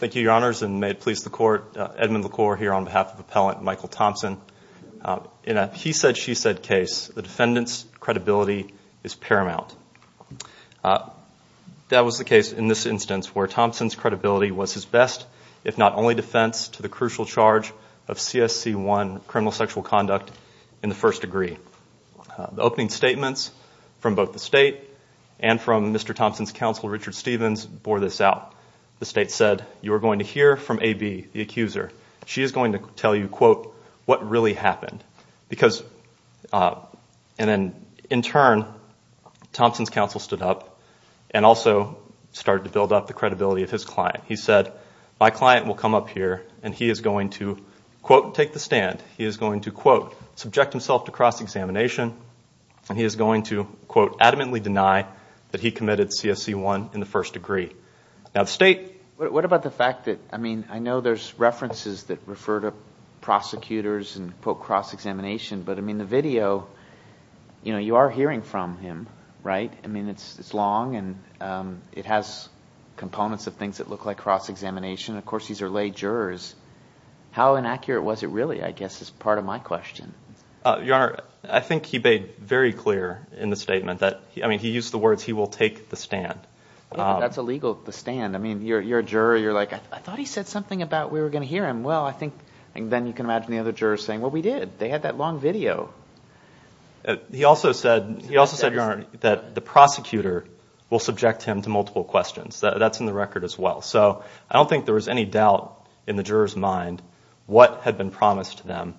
Thank you your honors and may it please the court Edmund LaCour here on behalf of appellant Michael Thompson. In a he said she said case the defendants credibility is paramount. That was the case in this instance where Thompson's credibility was his best if not only defense to the crucial charge of CSC one criminal sexual conduct in the first degree. The opening statements from both the state and from Mr. Thompson's counsel Richard Stevens bore this out. The state said you're going to hear from AB the accuser she is going to tell you quote what really happened because in turn Thompson's counsel stood up and also started to build up the credibility of his client. He said my client will come up here and he is going to quote take the stand he is going to quote subject himself to cross-examination and he is going to quote adamantly deny that he committed CSC one in the first degree. Now the state what about the fact that I mean I know there's references that refer to prosecutors and quote cross-examination but I mean the video you know you are hearing from him right I mean it's it's long and it has components of things that look like cross-examination of course these are lay jurors. How inaccurate was it really I guess is part of my question. Your honor I think he made very clear in the statement that I mean he used the words he will take the stand. That's illegal to stand I mean you're a juror you're like I thought he said something about we were going to hear him well I think and then you can imagine the other jurors saying what we did they had that long video. He also said he also said your honor that the prosecutor will subject him to multiple questions that's in the record as well so I don't think there was any doubt in the jurors mind what had been promised to them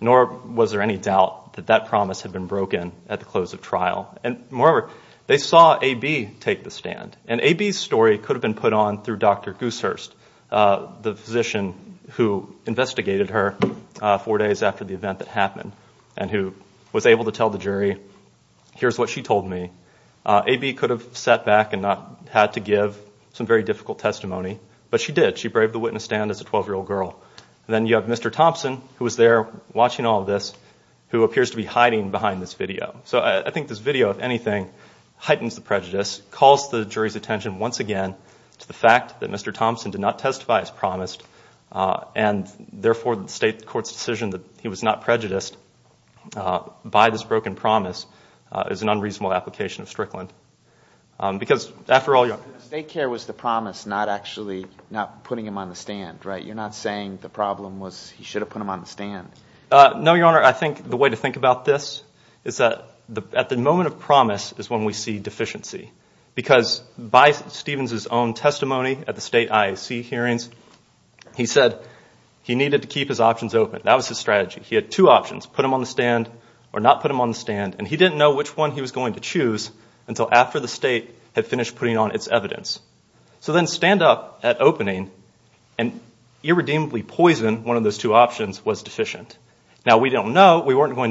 nor was there any doubt that that promise had been broken at the close of trial and moreover they saw AB take the stand and AB's story could have been put on through Dr. Goosehurst the physician who investigated her four days after the event that happened and who was able to tell the jury here's what she told me. AB could have sat back and not had to give some very difficult testimony but she did she braved the witness stand as a 12 year old girl and then you have Mr. Thompson who was there watching all this who appears to be hiding behind this video so I think this video if anything heightens the prejudice calls the jury's attention once again to the fact that Mr. Thompson did not testify as promised and therefore the state court's decision that he was not prejudiced by this broken promise is an unreasonable application of Strickland because after all you know. State care was the promise not actually not putting him on the stand right you're not saying the problem was he should have put him on the stand. No your honor I think the way to think about this is that the at the moment of promise is when we see deficiency because by Stevens's own testimony at the state IAC hearings he said he needed to keep his options open that was his strategy he had two options put him on the stand or not put him on the stand and he didn't know which one he was going to choose until after the state had finished putting on its evidence. So then stand up at opening and irredeemably poison one of those two to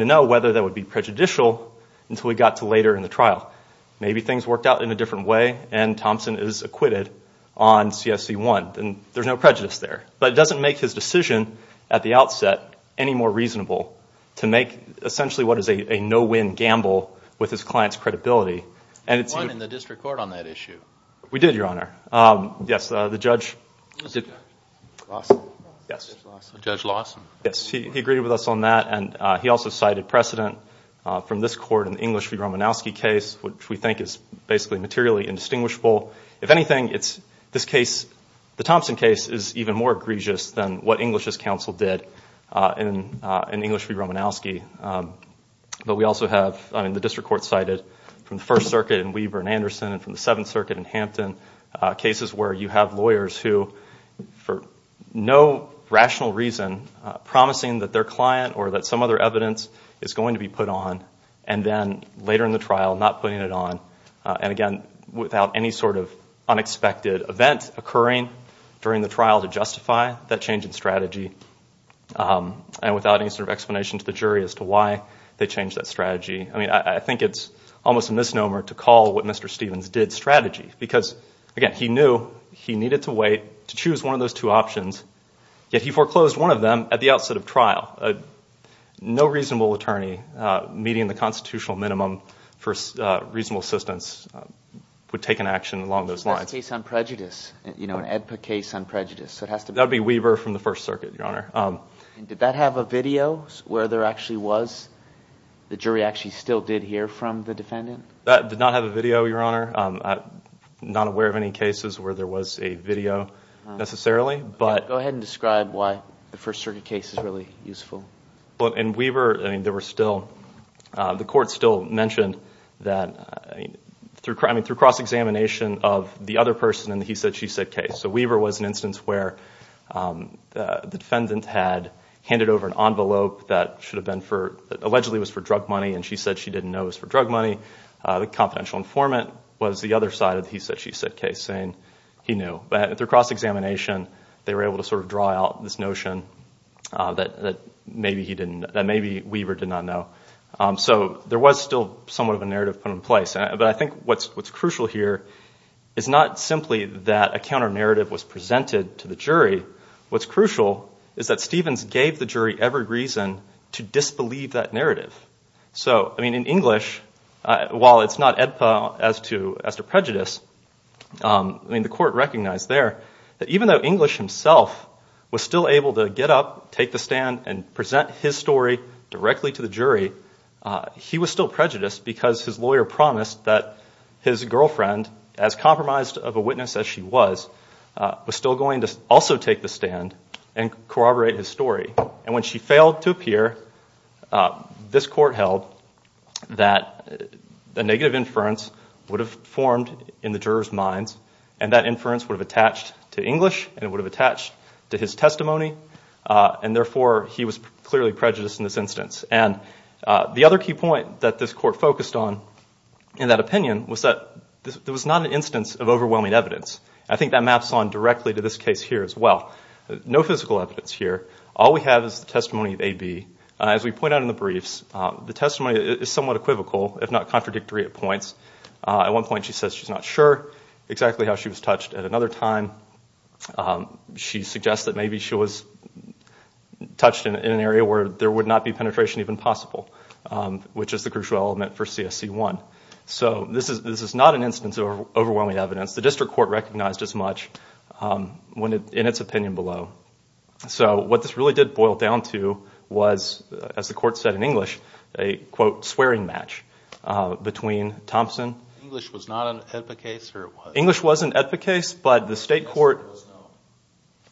know whether that would be prejudicial until we got to later in the trial maybe things worked out in a different way and Thompson is acquitted on CSC one and there's no prejudice there but it doesn't make his decision at the outset any more reasonable to make essentially what is a no-win gamble with his clients credibility and it's one in the district court on that issue we did your honor yes the judge judge Lawson yes he agreed with us on that and he also cited precedent from this court in English v. Romanowski case which we think is basically materially indistinguishable if anything it's this case the Thompson case is even more egregious than what English's counsel did in English v. Romanowski but we also have I mean the district court cited from the First Circuit in Weber and Anderson and from the Seventh Circuit in Hampton cases where you have lawyers who for no rational reason promising that their client or that some other evidence is going to be put on and then later in the trial not putting it on and again without any sort of unexpected event occurring during the trial to justify that change in strategy and without any sort of explanation to the jury as to why they changed that strategy I mean I think it's almost a misnomer to call what mr. Stevens did strategy because again he knew he needed to wait to choose one of those two no reasonable attorney meeting the constitutional minimum for reasonable assistance would take an action along those lines case on prejudice you know an edpa case on prejudice so it has to be Weber from the First Circuit your honor did that have a video where there actually was the jury actually still did hear from the defendant that did not have a video your honor not aware of any cases where there was a video necessarily but go ahead and describe why the First Circuit case is really useful well and we were I mean there were still the court still mentioned that through crime and through cross examination of the other person and he said she said case so Weaver was an instance where the defendant had handed over an envelope that should have been for allegedly was for drug money and she said she didn't know is for drug money the confidential informant was the other side of he said she said case saying he knew but at their cross-examination they were able to sort of draw out this notion that maybe he didn't maybe we were did not know so there was still somewhat of a narrative put in place but I think what's what's crucial here is not simply that a counter narrative was presented to the jury what's crucial is that Stevens gave the jury every reason to disbelieve that narrative so I mean in English while it's not edpa as to as to prejudice I mean the court recognized there that even though English himself was still able to get up take the stand and present his story directly to the jury he was still prejudiced because his lawyer promised that his girlfriend as compromised of a witness as she was was still going to also take the stand and corroborate his story and when she failed to appear this court held that the negative inference would have formed in the jurors minds and that inference would have attached to English and it would have attached to his testimony and therefore he was clearly prejudiced in this instance and the other key point that this court focused on in that opinion was that there was not an instance of overwhelming evidence I think that maps on directly to this case here as well no physical evidence here all we have is the testimony of a be as we point out in the briefs the testimony is somewhat equivocal if not contradictory at points at one point she says she's not sure exactly how she was touched at another time she suggests that maybe she was touched in an area where there would not be penetration even possible which is the crucial element for CSC one so this is this is not an instance of overwhelming evidence the district court recognized as much when it in its opinion below so what this really did boil down to was as the court said in English a quote swearing match between Thompson English was not an epic case English wasn't epic case but the state court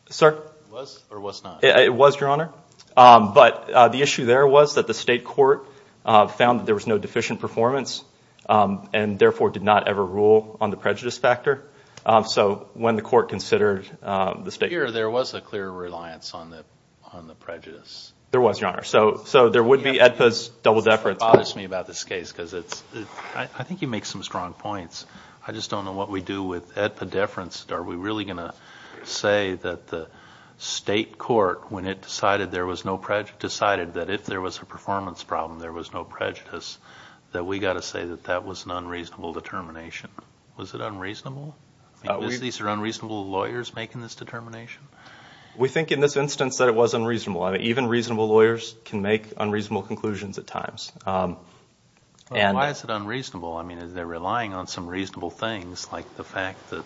sir it was your honor but the issue there was that the state court found that there was no deficient performance and therefore did not ever rule on the prejudice factor so when the court considered the state here there was a clear reliance on the on the prejudice there was your honor so so there would be at this double-decker it bothers me about this case because it's I think you make some strong points I just don't know what we do with at the difference are we really gonna say that the state court when it decided there was no project decided that if there was a performance problem there was no prejudice that we got to say that that was an unreasonable determination was it unreasonable these are unreasonable lawyers making this determination we think in this instance that it was unreasonable I mean even reasonable lawyers can make unreasonable conclusions at times and why is it unreasonable I mean they're relying on some reasonable things like the fact that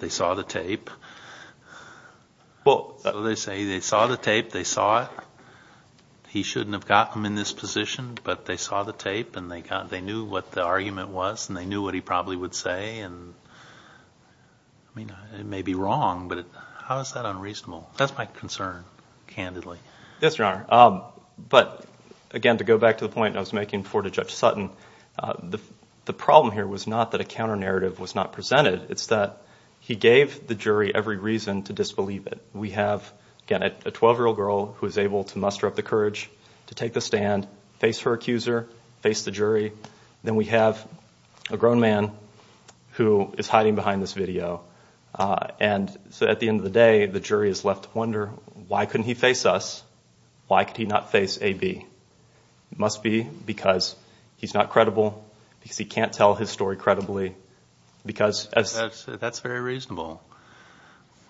they saw the tape well they say they saw the tape they saw it he shouldn't have gotten in this position but they saw the tape and they got they knew what the argument was and they knew what he probably would say and I mean it may be wrong but how is that unreasonable that's my concern candidly yes your honor but again to go back to the point I was making before to judge Sutton the the problem here was not that a counter narrative was not presented it's that he gave the jury every reason to disbelieve it we have again at a 12 year old girl who is able to muster up the courage to take the stand face her accuser face the jury then we have a grown man who is hiding behind this video and so at the end of the day the jury is left to wonder why couldn't he face us why could he not face a be must be because he's not credible because he can't tell his story credibly because that's very reasonable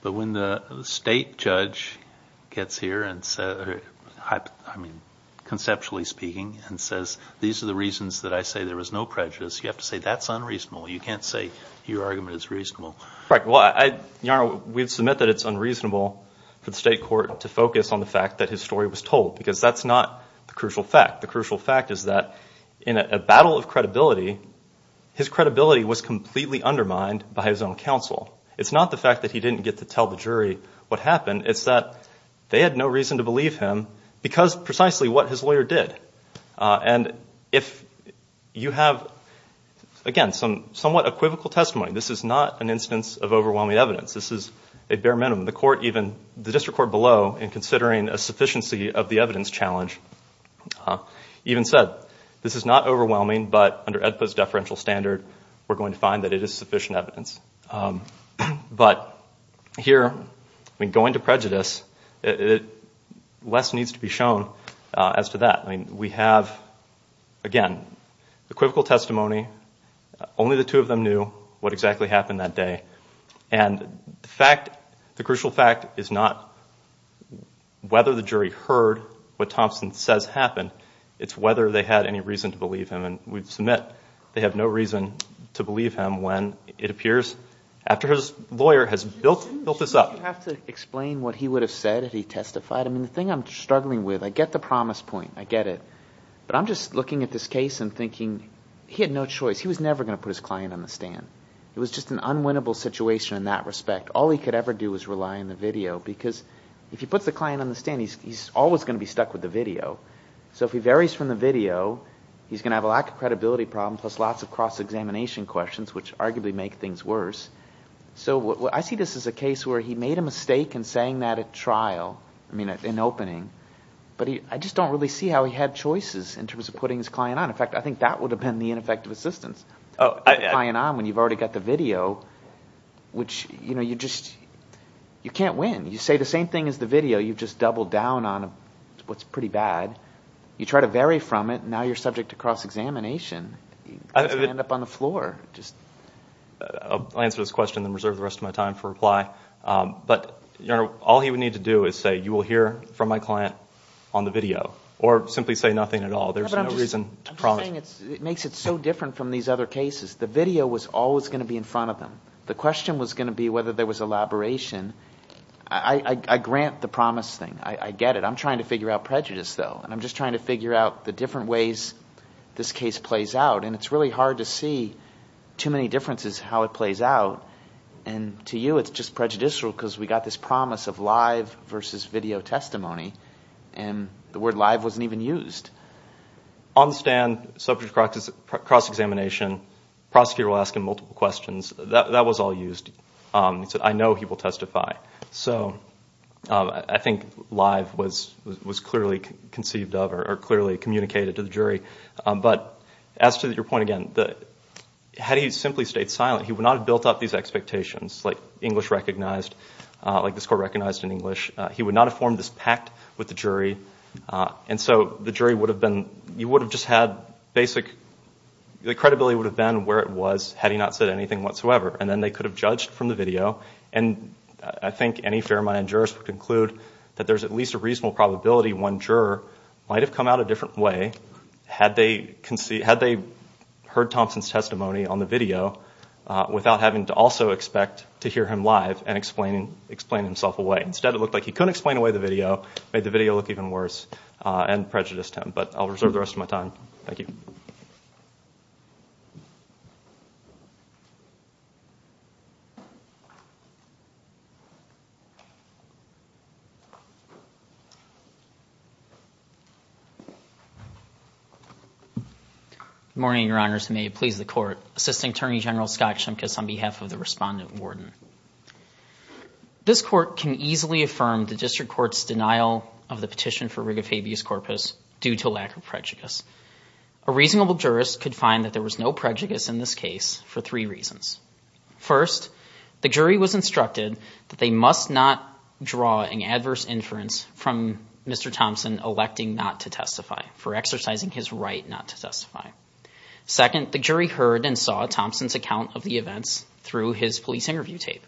but when the state judge gets here and said I mean conceptually speaking and says these are the reasons that I say there was no prejudice you have to say that's unreasonable you can't say your argument is reasonable right well I know we've that it's unreasonable to focus on the fact that his story was told because that's not the crucial fact the crucial fact is that in a battle of credibility his credibility was completely undermined by his own counsel it's not the fact that he didn't get to tell the jury what happened it's that they had no reason to believe him because precisely what his lawyer did and if you have again some somewhat equivocal testimony this is not an instance of overwhelming evidence this is a bare minimum the court even the district court below in considering a sufficiency of the evidence challenge even said this is not overwhelming but under EDPA's deferential standard we're going to find that it is sufficient evidence but here I mean going to prejudice it less needs to be shown as to that I mean we have again equivocal testimony only the two of them knew what exactly happened that day and the fact the crucial fact is not whether the jury heard what Thompson says happened it's whether they had any reason to believe him and we've submit they have no reason to believe him when it appears after his lawyer has built built this up have to explain what he would have said if he testified I mean the thing I'm struggling with I get the promise point I get it but I'm just looking at this case and thinking he had no choice he was never gonna put his client on the stand it was just an unwinnable situation in that respect all he could ever do is rely on the video because if you put the client on the stand he's always gonna be stuck with the video so if he varies from the video he's gonna have a lack of credibility problem plus lots of cross-examination questions which arguably make things worse so what I see this is a case where he made a mistake and saying that at trial I mean in opening but he I just don't really see how he had choices in terms of putting his client on in fact I think that would have been the ineffective assistance oh I and I'm when you've already got the video which you know you just you can't win you say the same thing as the video you've just doubled down on what's pretty bad you try to vary from it now you're subject to cross-examination up on the floor just I'll answer this question then reserve the rest of my time for reply but you know all he would need to do is say you will hear from my client on the video or simply say nothing at all there's no reason it makes it so different from these other cases the video was always gonna be in front of them the question was gonna be whether there was elaboration I grant the promise thing I get it I'm trying to figure out prejudice though and I'm just trying to figure out the different ways this case plays out and it's really hard to see too many differences how it plays out and to you it's just prejudicial because we got this promise of live versus video testimony and the word live wasn't even used on stand subject practice cross-examination prosecutor will ask him multiple questions that was all used so I know he will testify so I think live was was clearly conceived of or clearly communicated to the jury but as to that your point again that how do you simply stayed silent he would not have built up these expectations like English recognized like this court recognized in English he would not have formed this pact with the jury and so the jury would have been you would have just had basic the credibility would have been where it was had he not said anything whatsoever and then they could have judged from the video and I think any fair mind jurist would conclude that there's at least a reasonable probability one juror might have come out a different way had they can see had they heard Thompson's testimony on the video without having to also expect to live and explaining explain himself away instead it looked like he couldn't explain away the video made the video look even worse and prejudiced him but I'll reserve the rest of my time thank you morning your honors may it please the court assisting Attorney General Scott on behalf of the respondent warden this court can easily affirm the district court's denial of the petition for rig of habeas corpus due to lack of prejudice a reasonable jurist could find that there was no prejudice in this case for three reasons first the jury was instructed that they must not draw an adverse inference from mr. Thompson electing not to testify for exercising his right not to testify second the jury heard and saw Thompson's account of the events through his police interview tape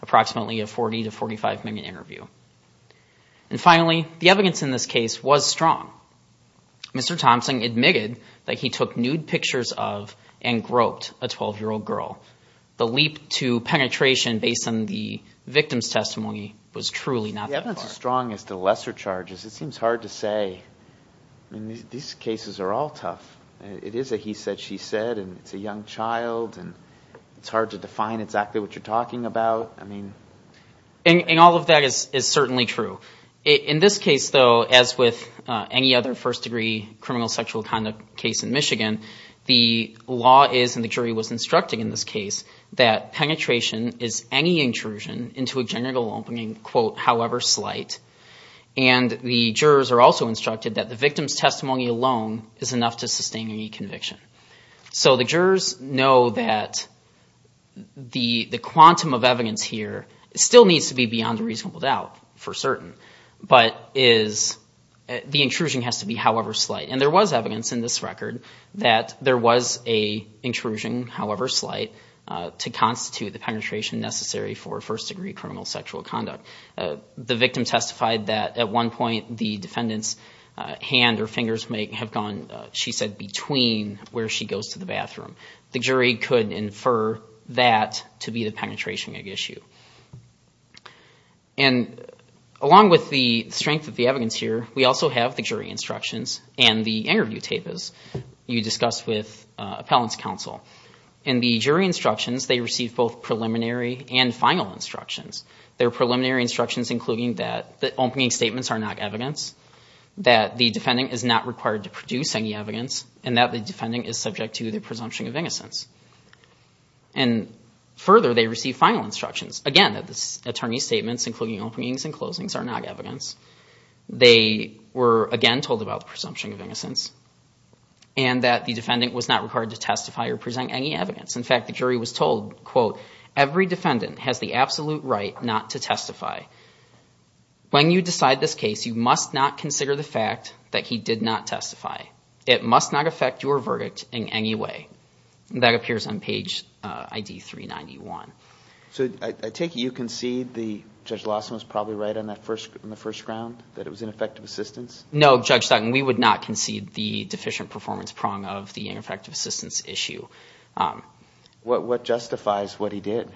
approximately a 40 to 45 minute interview and finally the evidence in this case was strong mr. Thompson admitted that he took nude pictures of and groped a 12 year old girl the leap to penetration based on the victim's testimony was truly not that strong as the lesser charges it seems hard to say these cases are all tough it is a he hard to define exactly what you're talking about I mean and all of that is certainly true in this case though as with any other first-degree criminal sexual conduct case in Michigan the law is and the jury was instructing in this case that penetration is any intrusion into a genital opening quote however slight and the jurors are also instructed that the victim's testimony alone is enough to sustain any conviction so the jurors know that the the quantum of evidence here still needs to be beyond a reasonable doubt for certain but is the intrusion has to be however slight and there was evidence in this record that there was a intrusion however slight to constitute the penetration necessary for first-degree criminal sexual conduct the victim testified that at one point the defendants hand or fingers may have gone she said between where she goes to the bathroom the jury could infer that to be the penetration issue and along with the strength of the evidence here we also have the jury instructions and the interview tapas you discussed with appellants counsel and the jury instructions they receive both preliminary and final instructions their preliminary instructions including that the opening statements are not evidence that the defending is not required to produce any evidence and that the defending is subject to the presumption of innocence and further they receive final instructions again that this attorney's statements including openings and closings are not evidence they were again told about the presumption of innocence and that the defendant was not required to testify or present any evidence in fact the jury was told quote every defendant has the absolute right not to testify when you decide this case you must not consider the fact that he did not testify it must not affect your verdict in any way that appears on page ID 391 so I take you concede the judge Lawson was probably right on that first in the first round that it was ineffective assistance no judge Sutton we would not concede the deficient performance prong of the ineffective assistance issue what justifies what he did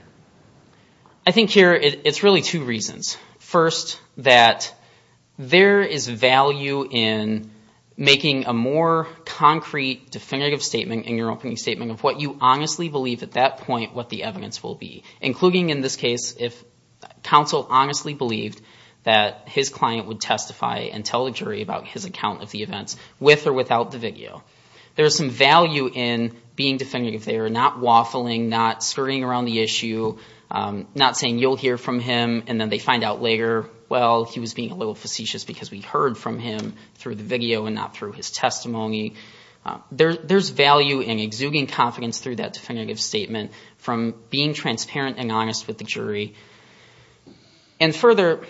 I think here it's really two reasons first that there is value in making a more concrete definitive statement in your opening statement of what you honestly believe at that point what the evidence will be including in this case if counsel honestly believed that his client would testify and tell the jury about his account of the events with or without the video there's some value in being definitive they are not waffling not skirting around the issue not saying you'll hear from him and then they find out later well he was being a little facetious because we heard from him through the video and not through his testimony there's value in exuding confidence through that definitive statement from being transparent and honest with the jury and further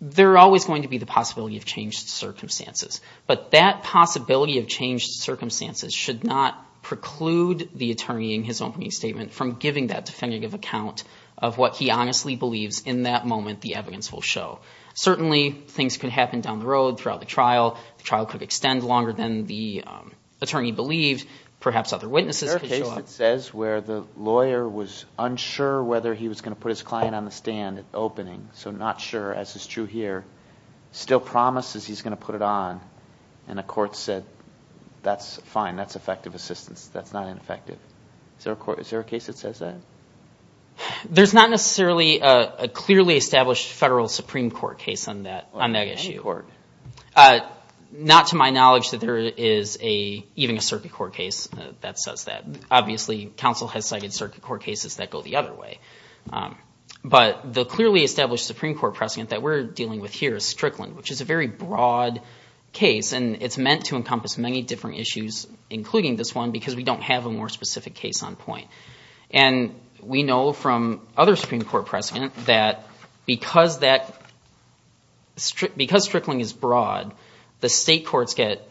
there are always going to be the possibility of changed circumstances but that possibility of changed circumstances should not preclude the attorney in his statement from giving that definitive account of what he honestly believes in that moment the evidence will show certainly things could happen down the road throughout the trial the trial could extend longer than the attorney believed perhaps other witnesses says where the lawyer was unsure whether he was going to put his client on the stand at opening so not sure as is true here still promises he's going to put it on and a court said that's fine that's effective assistance that's not an effective there a court is there a case that says that there's not necessarily a clearly established federal Supreme Court case on that on that issue or not to my knowledge that there is a even a circuit court case that says that obviously counsel has cited circuit court cases that go the other way but the clearly established Supreme Court precedent that we're dealing with here is Strickland which is a very broad case and it's meant to encompass many different issues including this one because we don't have a more specific case on point and we know from other Supreme Court precedent that because that strip because Strickland is broad the state courts get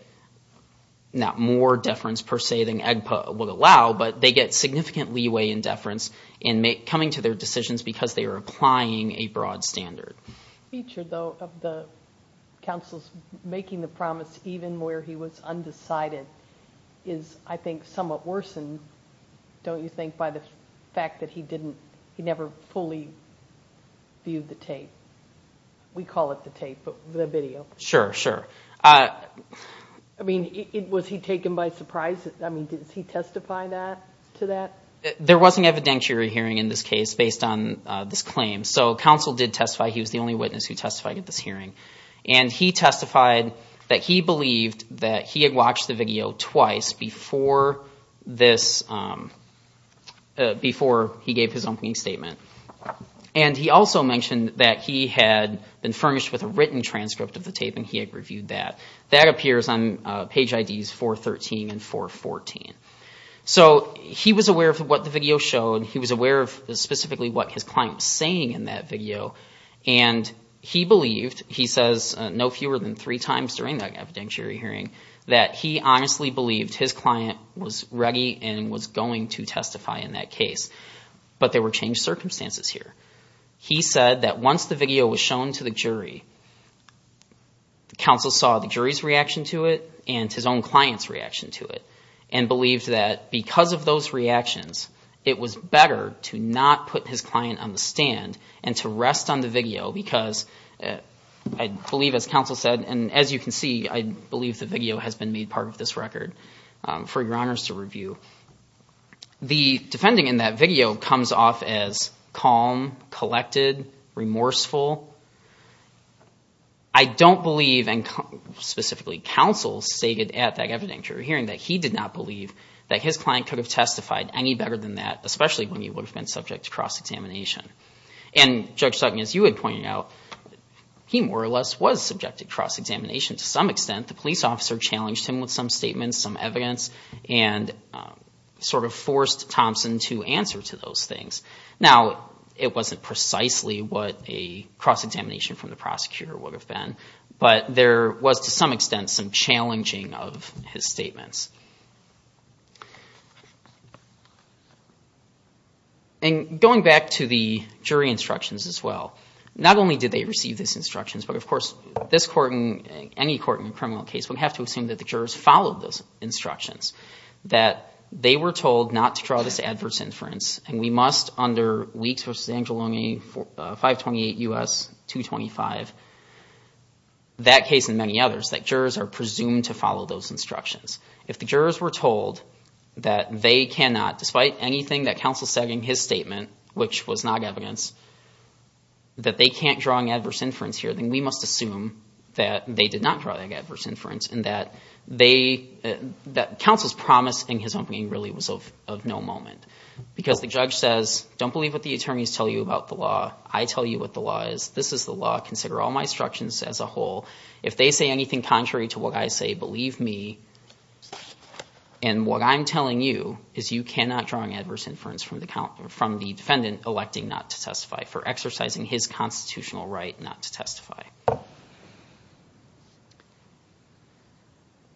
not more deference per se than AGPA will allow but they get significant leeway in deference in make coming to their decisions because they applying a broad standard the counsel's making the promise even where he was undecided is I think somewhat worsened don't you think by the fact that he didn't he never fully viewed the tape we call it the tape but the video sure sure I mean it was he taken by surprise I mean did he testify that to that there wasn't evidentiary hearing in this case based on this claim so counsel did testify he was the only witness who testified at this hearing and he testified that he believed that he had watched the video twice before this before he gave his opening statement and he also mentioned that he had been furnished with a written transcript of the tape and he had reviewed that that appears on page IDs 413 and 414 so he was aware of what the video showed he was aware of specifically what his client saying in that video and he believed he says no fewer than three times during that evidentiary hearing that he honestly believed his client was ready and was going to testify in that case but there were changed circumstances here he said that once the to it and his own clients reaction to it and believed that because of those reactions it was better to not put his client on the stand and to rest on the video because I believe as counsel said and as you can see I believe the video has been made part of this record for your honors to review the defending in that video comes off as calm collected remorseful I don't believe and specifically counsel stated at that evidentiary hearing that he did not believe that his client could have testified any better than that especially when you would have been subject to cross-examination and judge Sutton as you had pointed out he more or less was subjected cross-examination to some extent the police officer challenged him with some statements some evidence and sort of forced Thompson to answer to those things now it wasn't precisely what a cross-examination from the prosecutor would have been but there was to some extent some challenging of his statements and going back to the jury instructions as well not only did they receive this instructions but of course this court in any court in a criminal case would have to assume that the jurors followed those instructions that they were told not to draw this adverse inference and we must under weeks versus Angelini for 528 us 225 that case in many others that jurors are presumed to follow those instructions if the jurors were told that they cannot despite anything that counsel said in his statement which was not evidence that they can't draw an adverse inference here then we must assume that they did not draw that adverse inference and that they that counsel's promise in his opening really was of of no moment because the judge says don't believe what the attorneys tell you about the law is this is the law consider all my instructions as a whole if they say anything contrary to what I say believe me and what I'm telling you is you cannot draw an adverse inference from the count from the defendant electing not to testify for exercising his constitutional right not to testify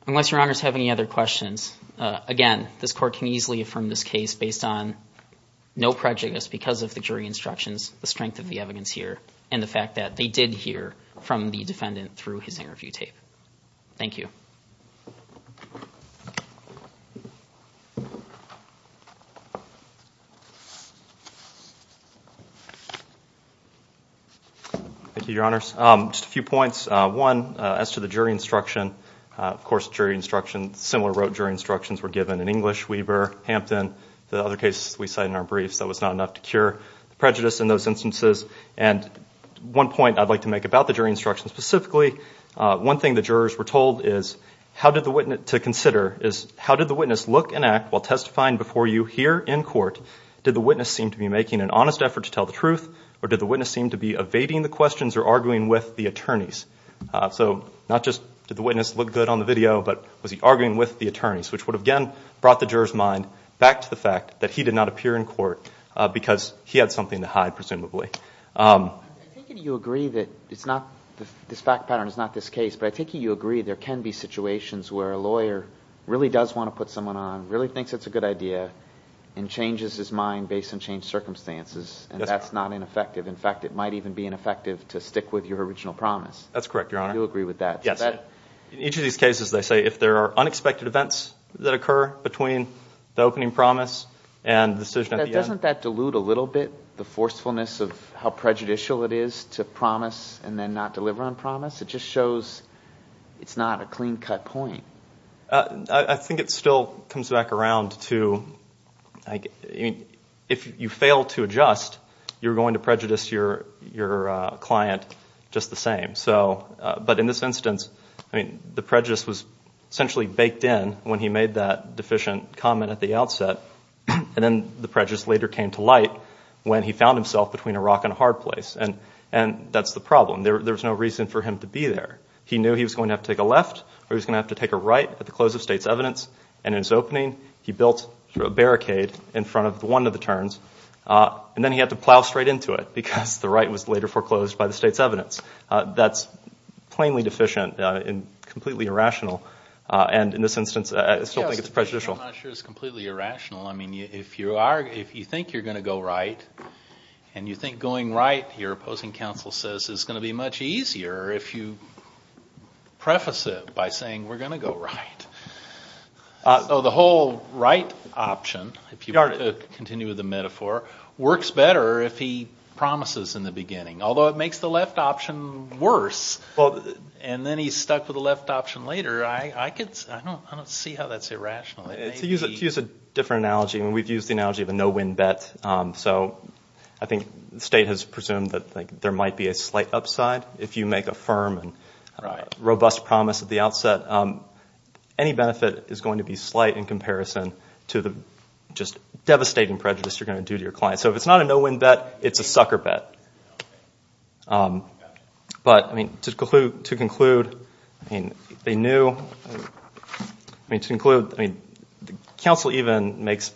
unless your honors have any other questions again this court can easily affirm this case based on no prejudice because of the jury instructions the evidence here and the fact that they did hear from the defendant through his interview tape thank you thank you your honors just a few points one as to the jury instruction of course jury instruction similar wrote jury instructions were given in English Weber Hampton the other case we cite in our briefs that was not enough to cure prejudice in those instances and one point I'd like to make about the jury instruction specifically one thing the jurors were told is how did the witness to consider is how did the witness look and act while testifying before you here in court did the witness seem to be making an honest effort to tell the truth or did the witness seem to be evading the questions or arguing with the attorneys so not just did the witness look good on the video but was he arguing with the attorneys which would again brought the jurors mind back to the fact that he did not appear in court because he had something to hide presumably you agree that it's not this fact pattern is not this case but I think you agree there can be situations where a lawyer really does want to put someone on really thinks it's a good idea and changes his mind based on changed circumstances and that's not ineffective in fact it might even be ineffective to stick with your original promise that's correct your honor you agree with that yes each of these cases they say if there are unexpected events that occur between the opening promise and decision doesn't that dilute a little bit the forcefulness of how prejudicial it is to promise and then not deliver on promise it just shows it's not a clean-cut point I think it still comes back around to I mean if you fail to adjust you're going to prejudice your your client just the same so but in this instance I mean the prejudice was essentially baked in when he made that deficient comment at the outset and then the prejudice later came to light when he found himself between a rock and a hard place and and that's the problem there's no reason for him to be there he knew he was going to have to take a left or he's gonna have to take a right at the close of state's evidence and in his opening he built a barricade in front of the one of the turns and then he had to plow straight into it because the right was later foreclosed by the state's evidence that's plainly deficient and completely irrational and in this instance I still think it's prejudicial I'm not sure it's completely irrational I mean if you are if you think you're going to go right and you think going right your opposing counsel says it's going to be much easier if you preface it by saying we're going to go right so the whole right option if you are to continue with the metaphor works better if he promises in the beginning although it makes the left option worse well and then he's option later I don't see how that's irrational. To use a different analogy and we've used the analogy of a no-win bet so I think the state has presumed that like there might be a slight upside if you make a firm and robust promise at the outset any benefit is going to be slight in comparison to the just devastating prejudice you're going to do to your client so if it's not a no-win bet it's a sucker bet but I mean to conclude to conclude I mean they knew I mean to include I mean the council even makes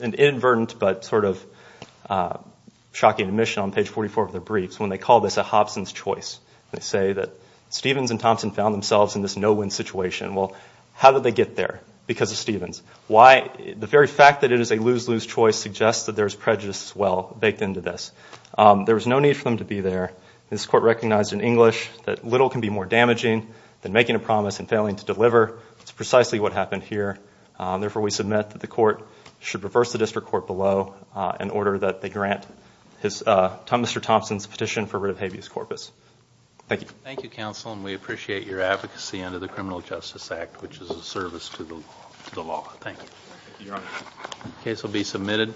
an inadvertent but sort of shocking admission on page 44 of their briefs when they call this a Hobson's choice they say that Stevens and Thompson found themselves in this no-win situation well how did they get there because of Stevens why the very fact that it is a lose-lose choice suggests that there's prejudice as well baked into this there was no need for them to be there this court recognized in English that little can be more damaging than making a promise and failing to deliver it's precisely what happened here therefore we submit that the court should reverse the district court below in order that they grant his Mr. Thompson's petition for rid of habeas corpus thank you thank you counsel and we appreciate your advocacy under the Criminal Justice Act which is a service to the law thank you your honor case will be submitted